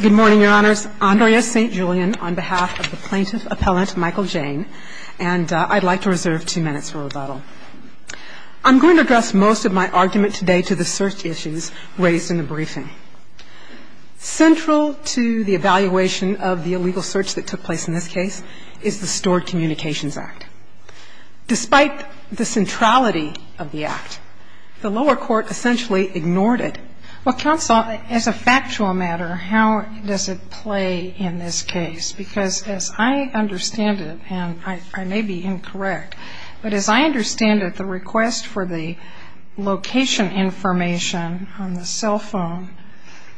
Good morning, your honors. Andrea St. Julian on behalf of the plaintiff appellant Michael Jayne, and I'd like to reserve two minutes for O'Donnell. I'm going to address most of my argument today to the search issues raised in the briefing. Central to the evaluation of the illegal search that took place in this case is the Stored Communications Act. Despite the centrality of the act, the lower court essentially ignored it. Well, counsel, as a factual matter, how does it play in this case? Because as I understand it, and I may be incorrect, but as I understand it, the request for the location information on the cell phone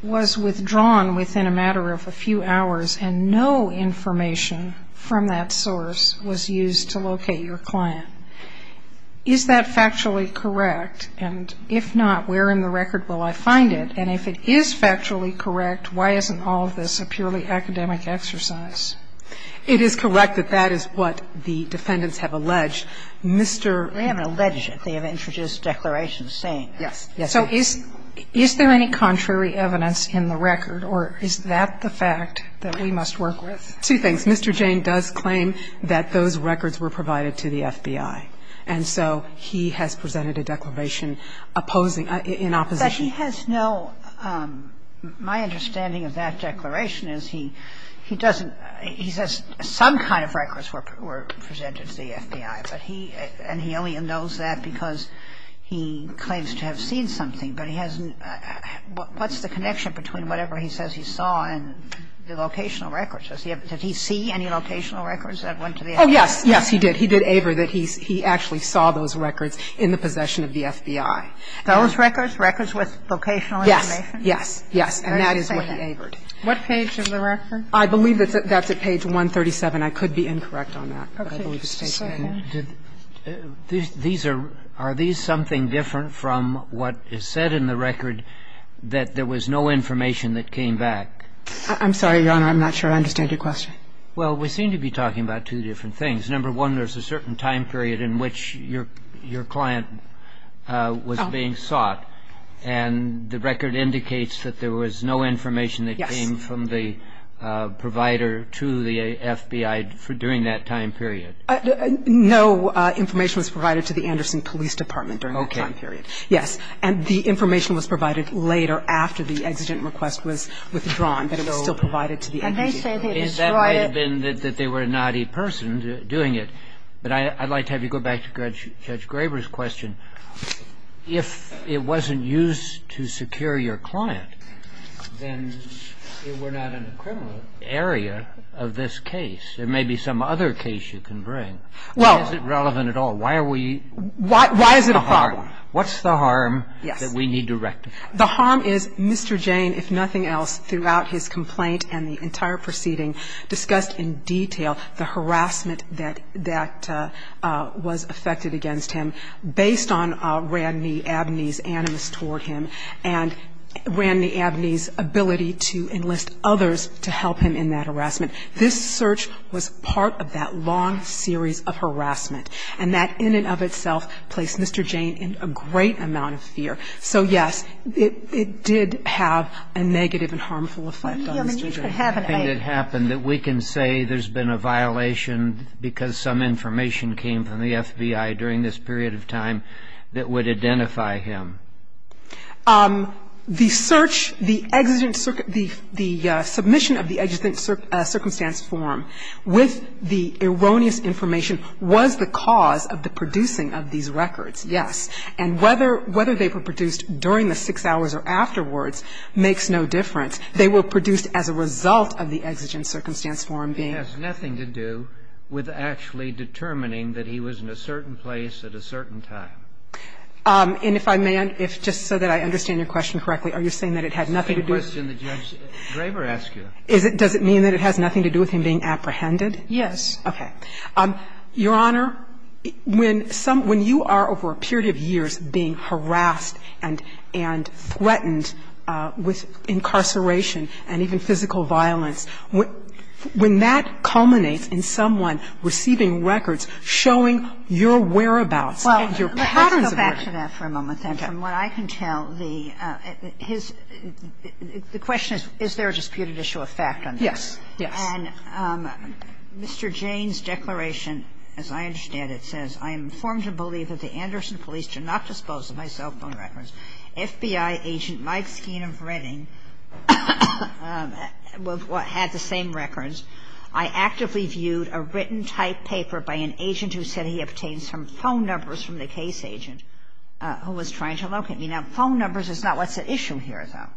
was withdrawn within a matter of a few hours, and no information from that source was used to locate your client. Is that factually correct? And if not, where in the record will I find it? And if it is factually correct, why isn't all of this a purely academic exercise? It is correct that that is what the defendants have alleged. Mr. ---- They haven't alleged it. They have introduced declarations saying that. Yes. So is there any contrary evidence in the record, or is that the fact that we must work with? Two things. Mr. Jane does claim that those records were provided to the FBI, and so he has presented a declaration opposing, in opposition. But he has no ---- my understanding of that declaration is he doesn't ---- he says some kind of records were presented to the FBI, but he ---- and he only knows that because he claims to have seen something, but he hasn't ---- what's the connection between whatever he says he saw and the locational records? Does he see any locational records that went to the FBI? Oh, yes. Yes, he did. He did aver that he actually saw those records in the possession of the FBI. Those records, records with locational information? Yes. Yes. Yes. And that is what he averred. What page of the record? I believe that's at page 137. I could be incorrect on that. Just a second. Are these something different from what is said in the record that there was no information that came back? I'm sorry, Your Honor. I'm not sure I understand your question. Well, we seem to be talking about two different things. Number one, there's a certain time period in which your client was being sought, and the record indicates that there was no information that came from the provider to the FBI during that time period. No information was provided to the Anderson Police Department during that time period. Okay. Yes. And the information was provided later after the exigent request was withdrawn, but it was still provided to the agency. And they say they destroyed it. That may have been that they were a naughty person doing it. But I'd like to have you go back to Judge Graber's question. If it wasn't used to secure your client, then we're not in a criminal area of this case. There may be some other case you can bring. Well. Why is it relevant at all? Why are we? Why is it a problem? What's the harm that we need to rectify? The harm is Mr. Jane, if nothing else, throughout his complaint and the entire proceeding discussed in detail the harassment that was affected against him based on Ranney Abney's animus toward him and Ranney Abney's ability to enlist others to help him in that harassment. This search was part of that long series of harassment. And that in and of itself placed Mr. Jane in a great amount of fear. So, yes, it did have a negative and harmful effect on Mr. Jane. The only other thing that happened that we can say there's been a violation because some information came from the FBI during this period of time that would identify him. The search, the exigent, the submission of the exigent circumstance form with the cause of the producing of these records, yes. And whether they were produced during the six hours or afterwards makes no difference. They were produced as a result of the exigent circumstance form being used. It has nothing to do with actually determining that he was in a certain place at a certain time. And if I may, just so that I understand your question correctly, are you saying that it had nothing to do with the case? It's the same question that Judge Draper asked you. Does it mean that it has nothing to do with him being apprehended? Yes. Your Honor, when you are, over a period of years, being harassed and threatened with incarceration and even physical violence, when that culminates in someone receiving records showing your whereabouts, your patterns of whereabouts. Well, let's go back to that for a moment, then. From what I can tell, the question is, is there a disputed issue of fact on that? And Mr. Jayne's declaration, as I understand it, says, I am informed to believe that the Anderson police did not dispose of my cell phone records. FBI agent Mike Skeen of Reading had the same records. I actively viewed a written type paper by an agent who said he obtained some phone numbers from the case agent who was trying to locate me. Now, phone numbers is not what's at issue here, though.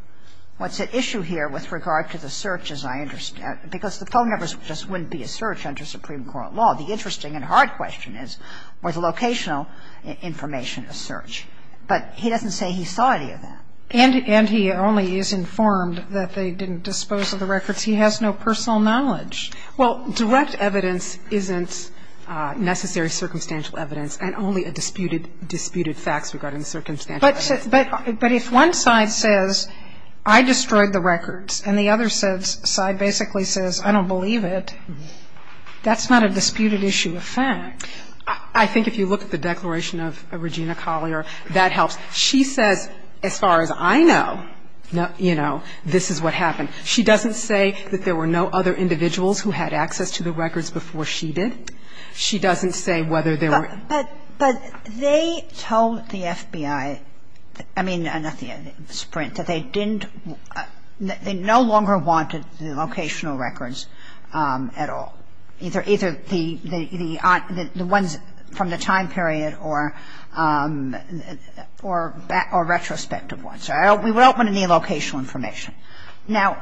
What's at issue here with regard to the search, as I understand it, because the phone numbers just wouldn't be a search under Supreme Court law. The interesting and hard question is, was the locational information a search? But he doesn't say he saw any of that. And he only is informed that they didn't dispose of the records. He has no personal knowledge. Well, direct evidence isn't necessary circumstantial evidence and only a disputed facts regarding the circumstantial evidence. But if one side says, I destroyed the records, and the other side basically says, I don't believe it, that's not a disputed issue of facts. I think if you look at the declaration of Regina Collier, that helps. She says, as far as I know, you know, this is what happened. She doesn't say that there were no other individuals who had access to the records before she did. She doesn't say whether there were. But they told the FBI, I mean, not the FBI, Sprint, that they didn't, that they no longer wanted the locational records at all, either the ones from the time period or retrospective ones. We don't want any locational information. Now,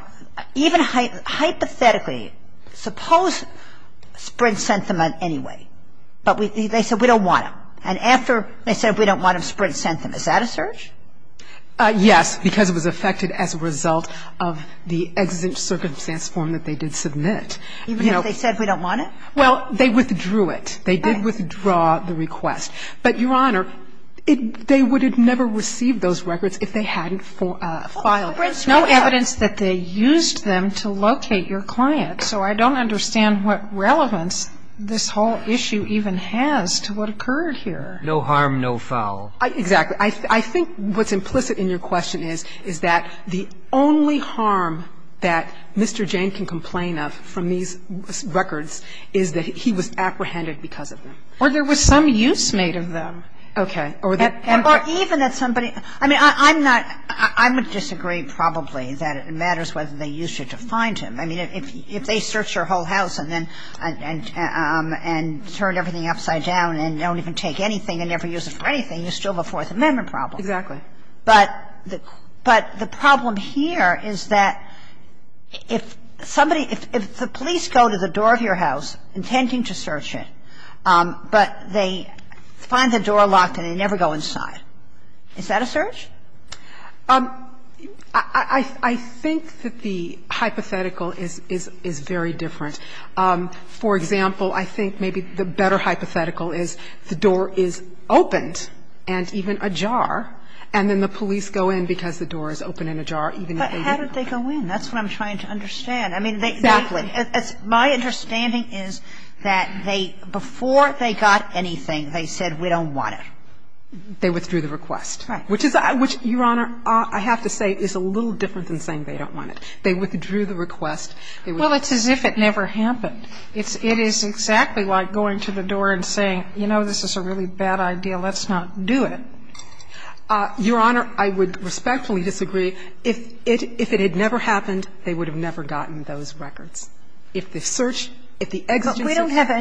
even hypothetically, suppose Sprint sent them an anyway, but they said we don't want them. And after they said we don't want them, Sprint sent them. Is that a search? Yes, because it was affected as a result of the exit circumstance form that they did submit. Even if they said we don't want it? Well, they withdrew it. Right. They did withdraw the request. But, Your Honor, it they would have never received those records if they hadn't filed them. There's no evidence that they used them to locate your client. So I don't understand what relevance this whole issue even has to what occurred here. No harm, no foul. Exactly. I think what's implicit in your question is, is that the only harm that Mr. Jane can complain of from these records is that he was apprehended because of them. Or there was some use made of them. Okay. Or even that somebody, I mean, I'm not, I would disagree probably that it matters whether they used her to find him. I mean, if they search your whole house and then, and turn everything upside down and don't even take anything and never use it for anything, you still have a Fourth Amendment problem. Exactly. But the problem here is that if somebody, if the police go to the door of your house intending to search it, but they find the door locked and they never go inside, is that a search? I think that the hypothetical is very different. For example, I think maybe the better hypothetical is the door is opened and even ajar, and then the police go in because the door is open and ajar, even if they didn't go in. But how did they go in? That's what I'm trying to understand. Exactly. My understanding is that they, before they got anything, they said we don't want They withdrew the request. Which, Your Honor, I have to say is a little different than saying they don't want it. They withdrew the request. Well, it's as if it never happened. It is exactly like going to the door and saying, you know, this is a really bad idea, let's not do it. Your Honor, I would respectfully disagree. If it had never happened, they would have never gotten those records. If the search, if the exigence of search. But we don't have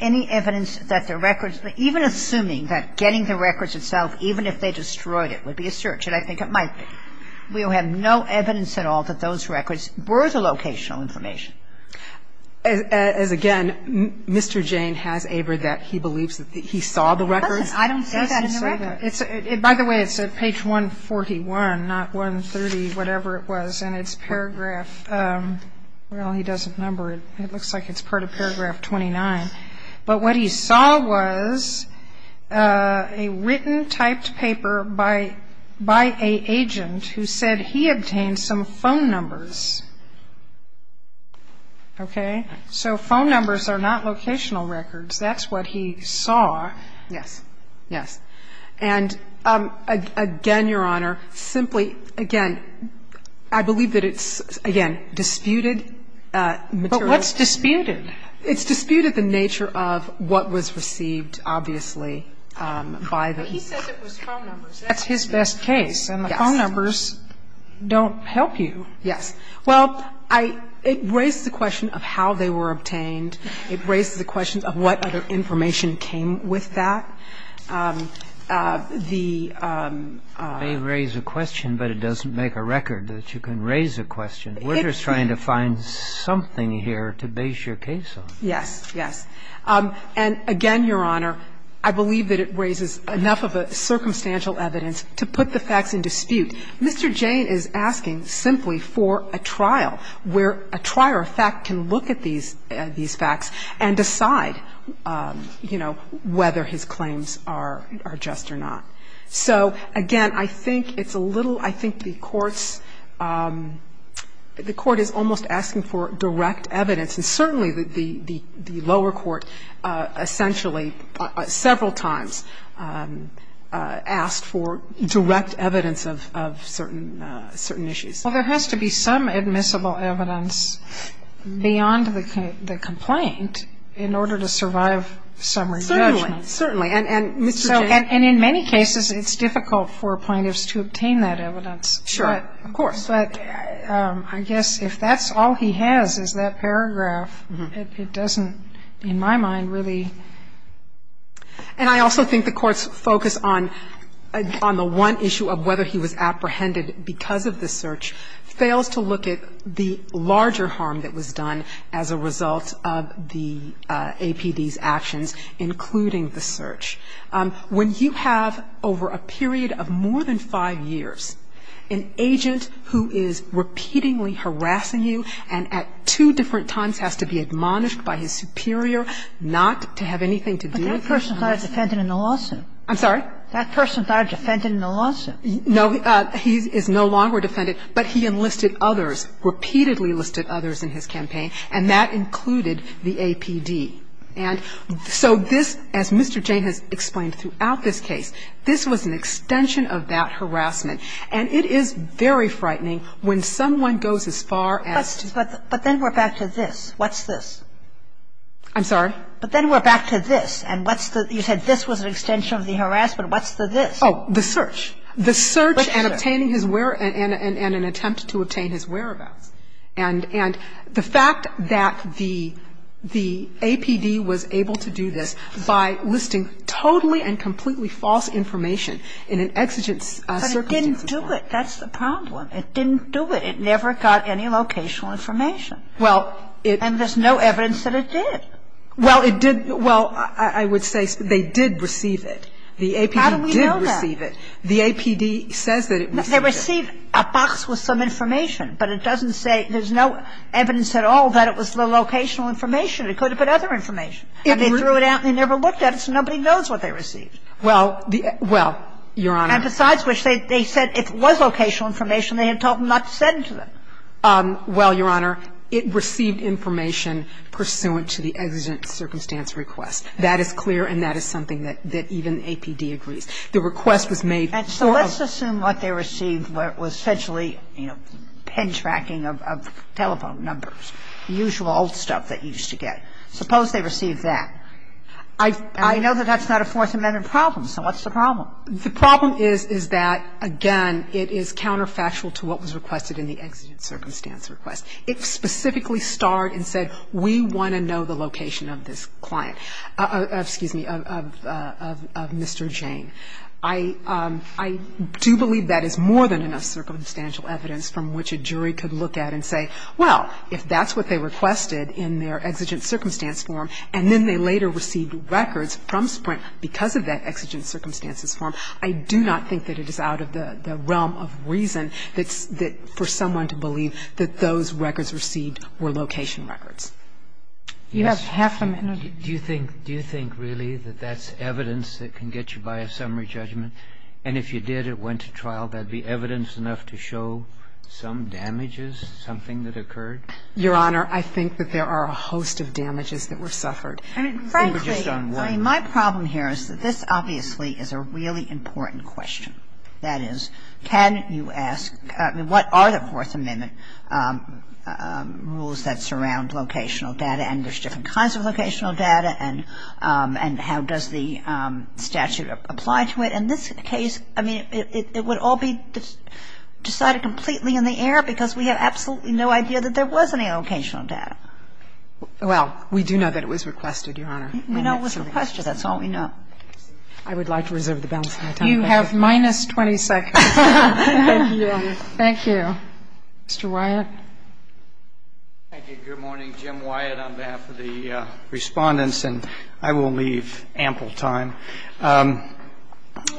any evidence that the records, even assuming that getting the records itself, even if they destroyed it, would be a search. And I think it might be. We have no evidence at all that those records were the locational information. As, again, Mr. Jane has abridged that he believes that he saw the records. I don't say that in the record. By the way, it's at page 141, not 130, whatever it was. And it's paragraph, well, he doesn't number it. It looks like it's part of paragraph 29. But what he saw was a written typed paper by a agent who said he obtained some phone numbers. Okay? So phone numbers are not locational records. That's what he saw. Yes. Yes. And, again, Your Honor, simply, again, I believe that it's, again, disputed material. But what's disputed? It's disputed the nature of what was received, obviously, by the ---- But he says it was phone numbers. That's his best case. Yes. And the phone numbers don't help you. Yes. Well, I ---- it raises the question of how they were obtained. It raises the question of what other information came with that. The ---- It may raise a question, but it doesn't make a record that you can raise a question. We're just trying to find something here to base your case on. Yes. Yes. And, again, Your Honor, I believe that it raises enough of a circumstantial evidence to put the facts in dispute. Mr. Jane is asking simply for a trial where a trier of fact can look at these facts and decide, you know, whether his claims are just or not. So, again, I think it's a little ---- I think the Court's ---- the Court is almost asking for direct evidence. And certainly the lower court essentially several times asked for direct evidence of certain issues. Well, there has to be some admissible evidence beyond the complaint in order to survive summary judgment. Certainly. Certainly. And Mr. Jane ---- And in many cases it's difficult for plaintiffs to obtain that evidence. Sure. Of course. But I guess if that's all he has is that paragraph, it doesn't, in my mind, really ---- And I also think the Court's focus on the one issue of whether he was apprehended because of the search fails to look at the larger harm that was done as a result of the APD's actions, including the search. When you have, over a period of more than five years, an agent who is repeatingly harassing you and at two different times has to be admonished by his superior not to have anything to do with him. But that person's already defended in the lawsuit. I'm sorry? That person's already defended in the lawsuit. No. He is no longer defended, but he enlisted others, repeatedly enlisted others in his case. at the larger harm that was done as a result of the APD. And so this, as Mr. Jane has explained throughout this case, this was an extension of that harassment, and it is very frightening when someone goes as far as to ---- But then we're back to this. What's this? I'm sorry? But then we're back to this. And what's the ---- You said this was an extension of the harassment. What's the this? Oh, the search. The search and obtaining his whereabouts and an attempt to obtain his whereabouts. And the fact that the APD was able to do this by listing totally and completely false information in an exigent circumstance. But it didn't do it. That's the problem. It didn't do it. It never got any locational information. Well, it ---- And there's no evidence that it did. Well, it did. Well, I would say they did receive it. The APD did receive it. How do we know that? The APD says that it received it. They received a box with some information, but it doesn't say ---- there's no evidence at all that it was the locational information. It could have been other information. And they threw it out and they never looked at it, so nobody knows what they received. Well, the ---- well, Your Honor. And besides which, they said if it was locational information, they had told them not to send it to them. Well, Your Honor, it received information pursuant to the exigent circumstance request. That is clear and that is something that even APD agrees. The request was made for a ---- And so let's assume what they received was essentially, you know, pen tracking of telephone numbers, the usual old stuff that you used to get. Suppose they received that. I know that that's not a Fourth Amendment problem, so what's the problem? The problem is, is that, again, it is counterfactual to what was requested in the exigent circumstance request. It specifically starred and said, we want to know the location of this client ---- excuse me, of Mr. Jane. I do believe that is more than enough circumstantial evidence from which a jury could look at and say, well, if that's what they requested in their exigent circumstance form, and then they later received records from Sprint because of that exigent circumstance request, then there's someone to believe that those records received were location records. You have half a minute. Do you think really that that's evidence that can get you by a summary judgment? And if you did, it went to trial, that would be evidence enough to show some damages, something that occurred? Your Honor, I think that there are a host of damages that were suffered. I mean, frankly, my problem here is that this obviously is a really important question. That is, can you ask what are the Fourth Amendment rules that surround locational data, and there's different kinds of locational data, and how does the statute apply to it? In this case, I mean, it would all be decided completely in the air because we have absolutely no idea that there was any locational data. Well, we do know that it was requested, Your Honor. We know it was requested. That's all we know. I would like to reserve the balance of my time. You have minus 20 seconds. Thank you. Thank you. Mr. Wyatt. Thank you. Good morning. Jim Wyatt on behalf of the Respondents, and I will leave ample time.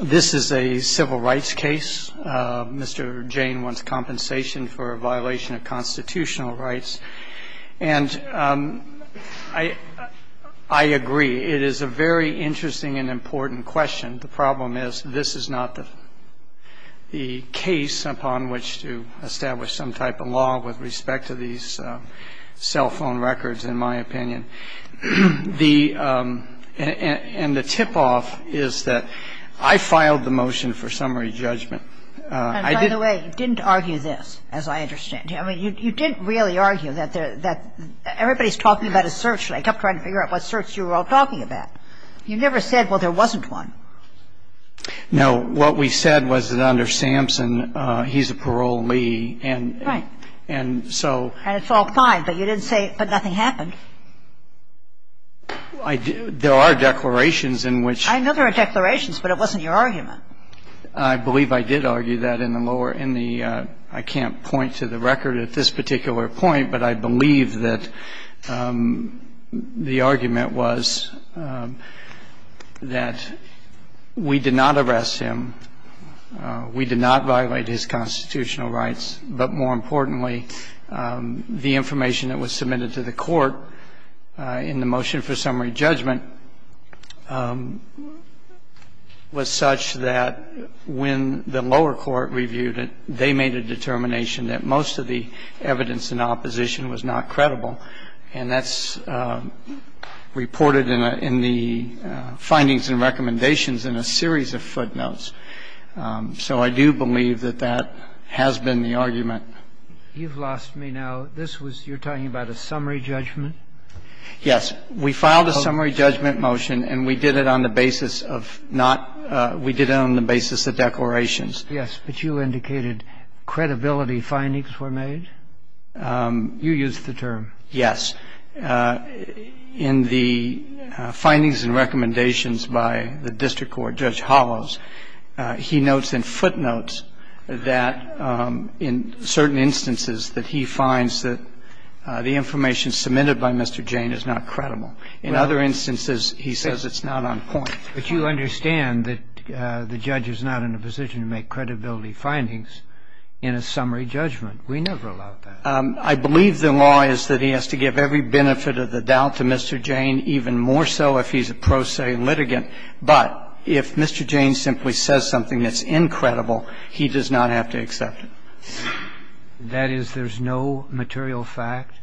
This is a civil rights case. Mr. Jane wants compensation for a violation of constitutional rights. And I agree. It is a very interesting and important question. The problem is this is not the case upon which to establish some type of law with respect to these cell phone records, in my opinion. And the tip-off is that I filed the motion for summary judgment. And by the way, you didn't argue this, as I understand. I mean, you didn't really argue that everybody's talking about a search. I kept trying to figure out what search you were all talking about. You never said, well, there wasn't one. No. What we said was that under Sampson, he's a parolee. Right. And so — And it's all fine, but you didn't say it, but nothing happened. There are declarations in which — I know there are declarations, but it wasn't your argument. I believe I did argue that in the lower — in the — I can't point to the record at this particular point, but I believe that the argument was that we did not arrest him, we did not violate his constitutional rights, but more importantly, the information that was submitted to the court in the motion for summary judgment was such that when the evidence in opposition was not credible. And that's reported in the findings and recommendations in a series of footnotes. So I do believe that that has been the argument. You've lost me now. This was — you're talking about a summary judgment? Yes. We filed a summary judgment motion, and we did it on the basis of not — we did it on the basis of declarations. Yes. But you indicated credibility findings were made? You used the term. Yes. In the findings and recommendations by the district court, Judge Hollows, he notes in footnotes that in certain instances that he finds that the information submitted by Mr. Jane is not credible. In other instances, he says it's not on point. But you understand that the judge is not in a position to make credibility findings in a summary judgment. We never allowed that. I believe the law is that he has to give every benefit of the doubt to Mr. Jane, even more so if he's a pro se litigant. But if Mr. Jane simply says something that's incredible, he does not have to accept it. That is, there's no material fact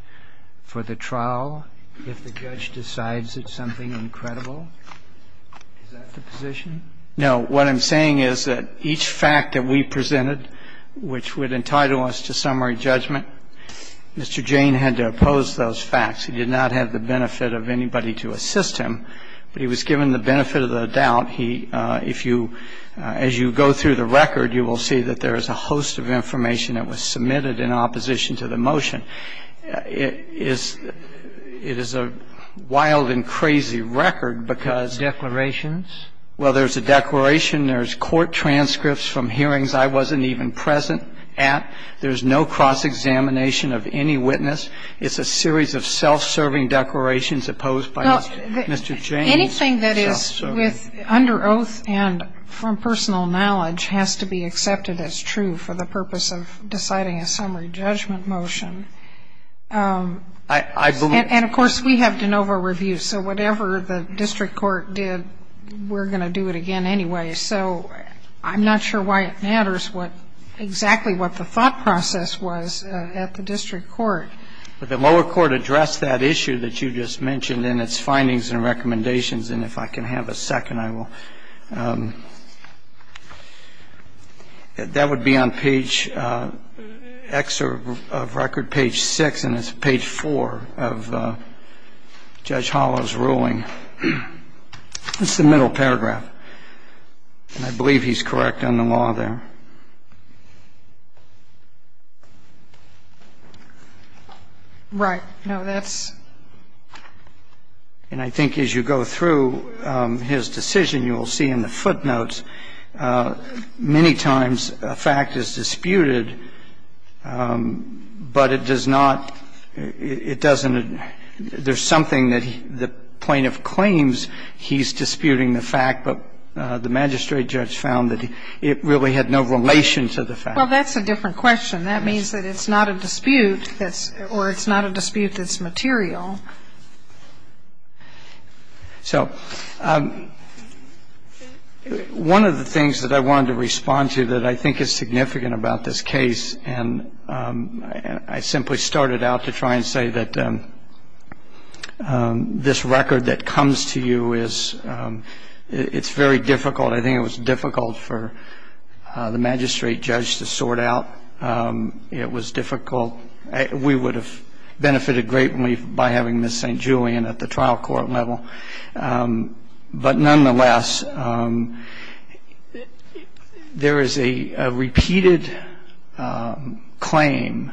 for the trial if the judge decides it's something incredible. Is that the position? No. What I'm saying is that each fact that we presented, which would entitle us to summary judgment, Mr. Jane had to oppose those facts. He did not have the benefit of anybody to assist him, but he was given the benefit of the doubt. He — if you — as you go through the record, you will see that there is a host of information that was submitted in opposition to the motion. It is a wild and crazy record because — Declarations? Well, there's a declaration. There's court transcripts from hearings I wasn't even present at. There's no cross-examination of any witness. It's a series of self-serving declarations opposed by Mr. Jane's self-serving declarations. Well, anything that is under oath and from personal knowledge has to be accepted as true for the purpose of deciding a summary judgment motion. I believe — And, of course, we have de novo reviews. So whatever the district court did, we're going to do it again anyway. So I'm not sure why it matters what — exactly what the thought process was at the district court. But the lower court addressed that issue that you just mentioned in its findings and recommendations. And if I can have a second, I will. That would be on page X of record, page 6. And it's page 4 of Judge Hollow's ruling. It's the middle paragraph. And I believe he's correct on the law there. Right. No, that's — And I think as you go through his decision, you will see in the footnotes, many times a fact is disputed, but it does not — it doesn't — there's something that the plaintiff claims he's disputing the fact, but the magistrate judge found that it really had no relation to the fact. Well, that's a different question. That means that it's not a dispute that's — or it's not a dispute that's material. So one of the things that I wanted to respond to that I think is significant about this case, and I simply started out to try and say that this record that comes to you is — it's very difficult. I think it was difficult for the magistrate judge to sort out. It was difficult. It was difficult for the magistrate judge to sort out. It was difficult for the magistrate judge to sort out. It was difficult for the magistrate judge to sort out. So we would have benefited greatly by having Ms. St. Julian at the trial court level. But nonetheless, there is a repeated claim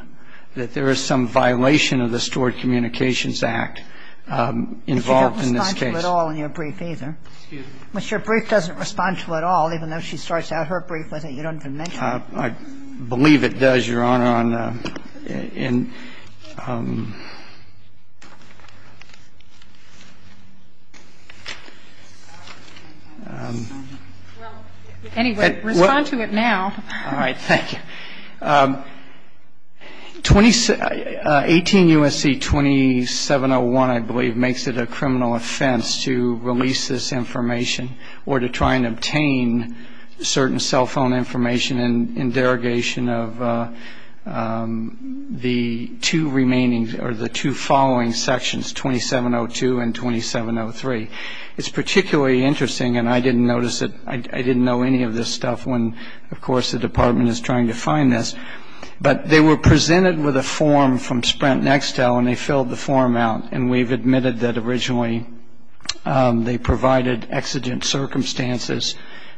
that there is some violation of the Stored Communications Act involved in this case. If you don't respond to it all in your brief, either. Excuse me. But your brief doesn't respond to it all, even though she starts out her brief with it. You don't even mention it. I believe it does, Your Honor. In — Well, anyway, respond to it now. All right. Thank you. 18 U.S.C. 2701, I believe, makes it a criminal offense to release this information or to try and obtain certain cell phone information in derogation of the two remaining — or the two following sections, 2702 and 2703. It's particularly interesting, and I didn't notice it — I didn't know any of this stuff when, of course, the Department is trying to find this. But they were presented with a form from Sprint Nextel, and they filled the form out. And we've admitted that originally they provided exigent circumstances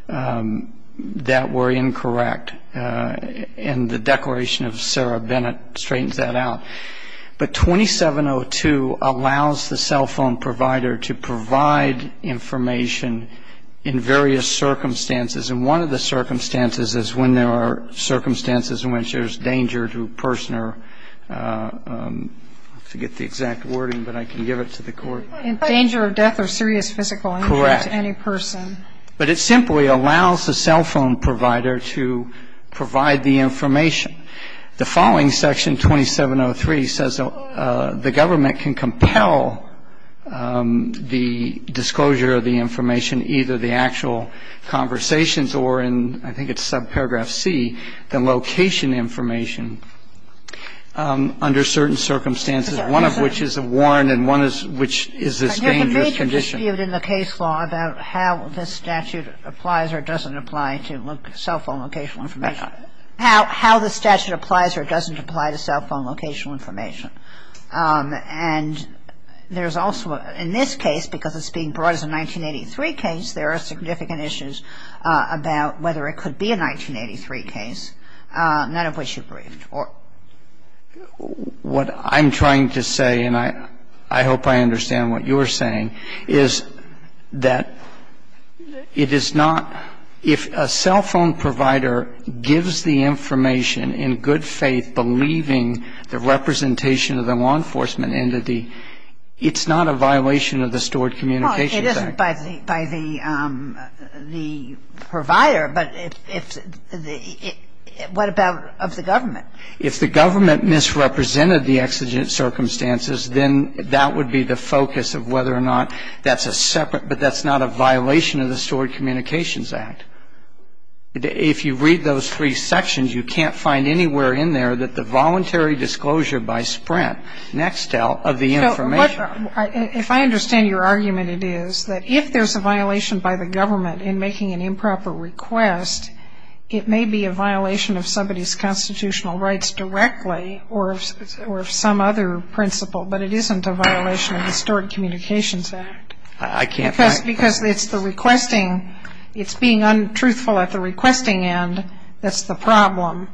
that were incorrect. And the declaration of Sarah Bennett straightens that out. But 2702 allows the cell phone provider to provide information in various circumstances. And one of the circumstances is when there are circumstances in which there's danger to a person or — I forget the exact wording, but I can give it to the Court. Danger of death or serious physical injury to any person. Correct. But it simply allows the cell phone provider to provide the information. The following section, 2703, says the government can compel the disclosure of the information, either the actual conversations or in — I think it's subparagraph C, the location information, under certain circumstances, one of which is a warrant and one of which is a dangerous condition. But there's a major dispute in the case law about how this statute applies or doesn't apply to cell phone locational information. How the statute applies or doesn't apply to cell phone locational information. And there's also, in this case, because it's being brought as a 1983 case, there are significant issues about whether it could be a 1983 case, none of which you've briefed. What I'm trying to say, and I hope I understand what you're saying, is that it is not — if a cell phone provider gives the information in good faith, believing the representation of the law enforcement entity, it's not a violation of the Stored Communications Act. Well, it isn't by the provider, but what about of the government? If the government misrepresented the exigent circumstances, then that would be the focus of whether or not that's a separate — but that's not a violation of the Stored Communications Act. If you read those three sections, you can't find anywhere in there that the voluntary disclosure by Sprint next to the information. If I understand your argument, it is that if there's a violation by the government in making an improper request, it may be a violation of somebody's constitutional rights directly or of some other principle, but it isn't a violation of the Stored Communications Act. I can't find — Because it's the requesting. It's being untruthful at the requesting end that's the problem.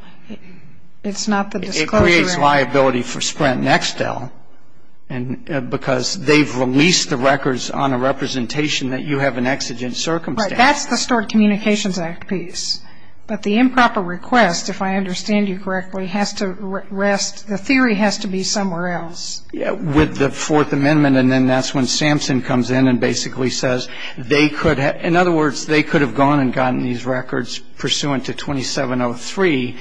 It's not the disclosure. It creates liability for Sprint next, though, because they've released the records on a representation that you have an exigent circumstance. Right. That's the Stored Communications Act piece. But the improper request, if I understand you correctly, has to rest — the theory has to be somewhere else. It's with the Fourth Amendment, and then that's when Sampson comes in and basically says they could have — in other words, they could have gone and gotten these records pursuant to 2703.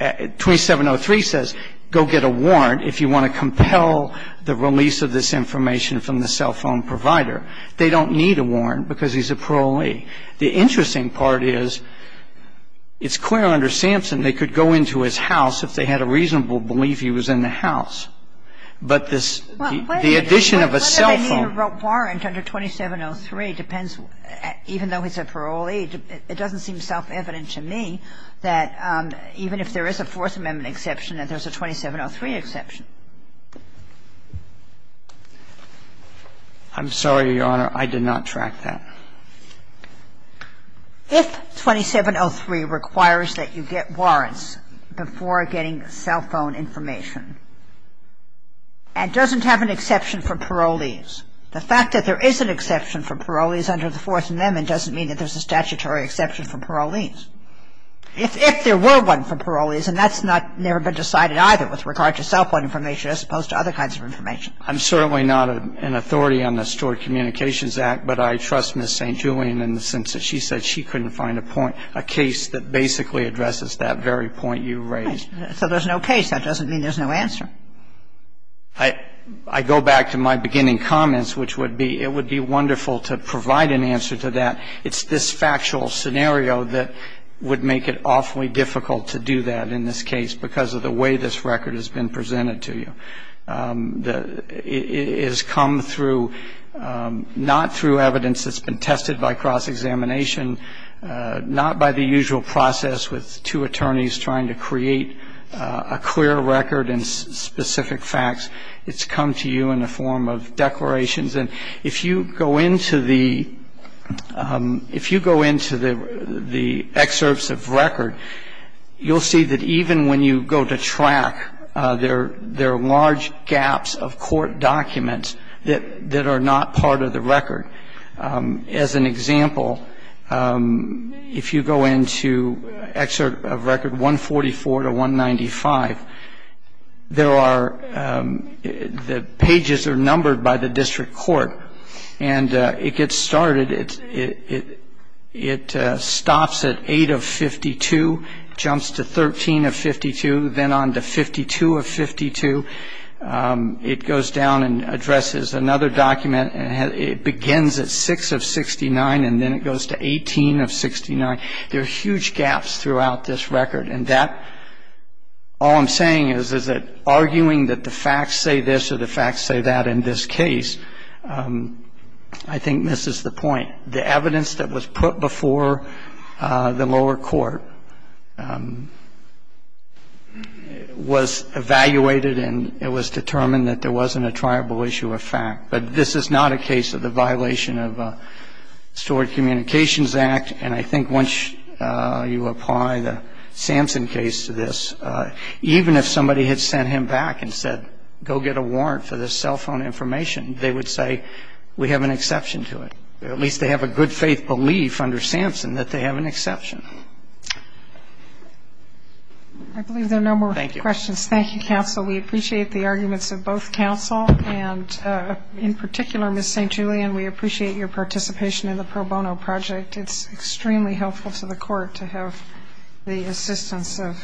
2703 says go get a warrant if you want to compel the release of this information from the cell phone provider. They don't need a warrant because he's a parolee. The interesting part is it's clear under Sampson they could go into his house if they had a reasonable belief he was in the house. But this — the addition of a cell phone — Well, what do they need a warrant under 2703 depends — even though he's a parolee, it doesn't seem self-evident to me that even if there is a Fourth Amendment exception that there's a 2703 exception. I'm sorry, Your Honor. I did not track that. If 2703 requires that you get warrants before getting cell phone information and doesn't have an exception for parolees, the fact that there is an exception for parolees under the Fourth Amendment doesn't mean that there's a statutory exception for parolees. If there were one for parolees, and that's not — never been decided either with regard to cell phone information as opposed to other kinds of information. I'm certainly not an authority on the Stored Communications Act, but I trust Ms. St. Julian in the sense that she said she couldn't find a point, a case that basically addresses that very point you raised. So there's no case. That doesn't mean there's no answer. I go back to my beginning comments, which would be it would be wonderful to provide an answer to that. It's this factual scenario that would make it awfully difficult to do that in this case because of the way this record has been presented to you. It has come through not through evidence that's been tested by cross-examination, not by the usual process with two attorneys trying to create a clear record and specific facts. It's come to you in the form of declarations. And if you go into the — if you go into the excerpts of record, you'll see that even when you go to track, there are large gaps of court documents that are not part of the record. As an example, if you go into excerpt of record 144 to 195, there are — the pages are numbered by the district court. And it gets started. It stops at 8 of 52, jumps to 13 of 52, then on to 52 of 52. It goes down and addresses another document. It begins at 6 of 69, and then it goes to 18 of 69. There are huge gaps throughout this record. And that — all I'm saying is, is that arguing that the facts say this or the facts say that in this case, I think misses the point. The evidence that was put before the lower court was evaluated, and it was determined that there wasn't a triable issue of fact. But this is not a case of the violation of the Stored Communications Act. And I think once you apply the Sampson case to this, even if somebody had sent him back and said, go get a warrant for this cell phone information, they would say, we have an exception to it. At least they have a good-faith belief under Sampson that they have an exception. I believe there are no more questions. Thank you. Thank you, counsel. We appreciate the arguments of both counsel. And in particular, Ms. St. Julian, we appreciate your participation in the pro bono project. It's extremely helpful to the court to have the assistance of counsel.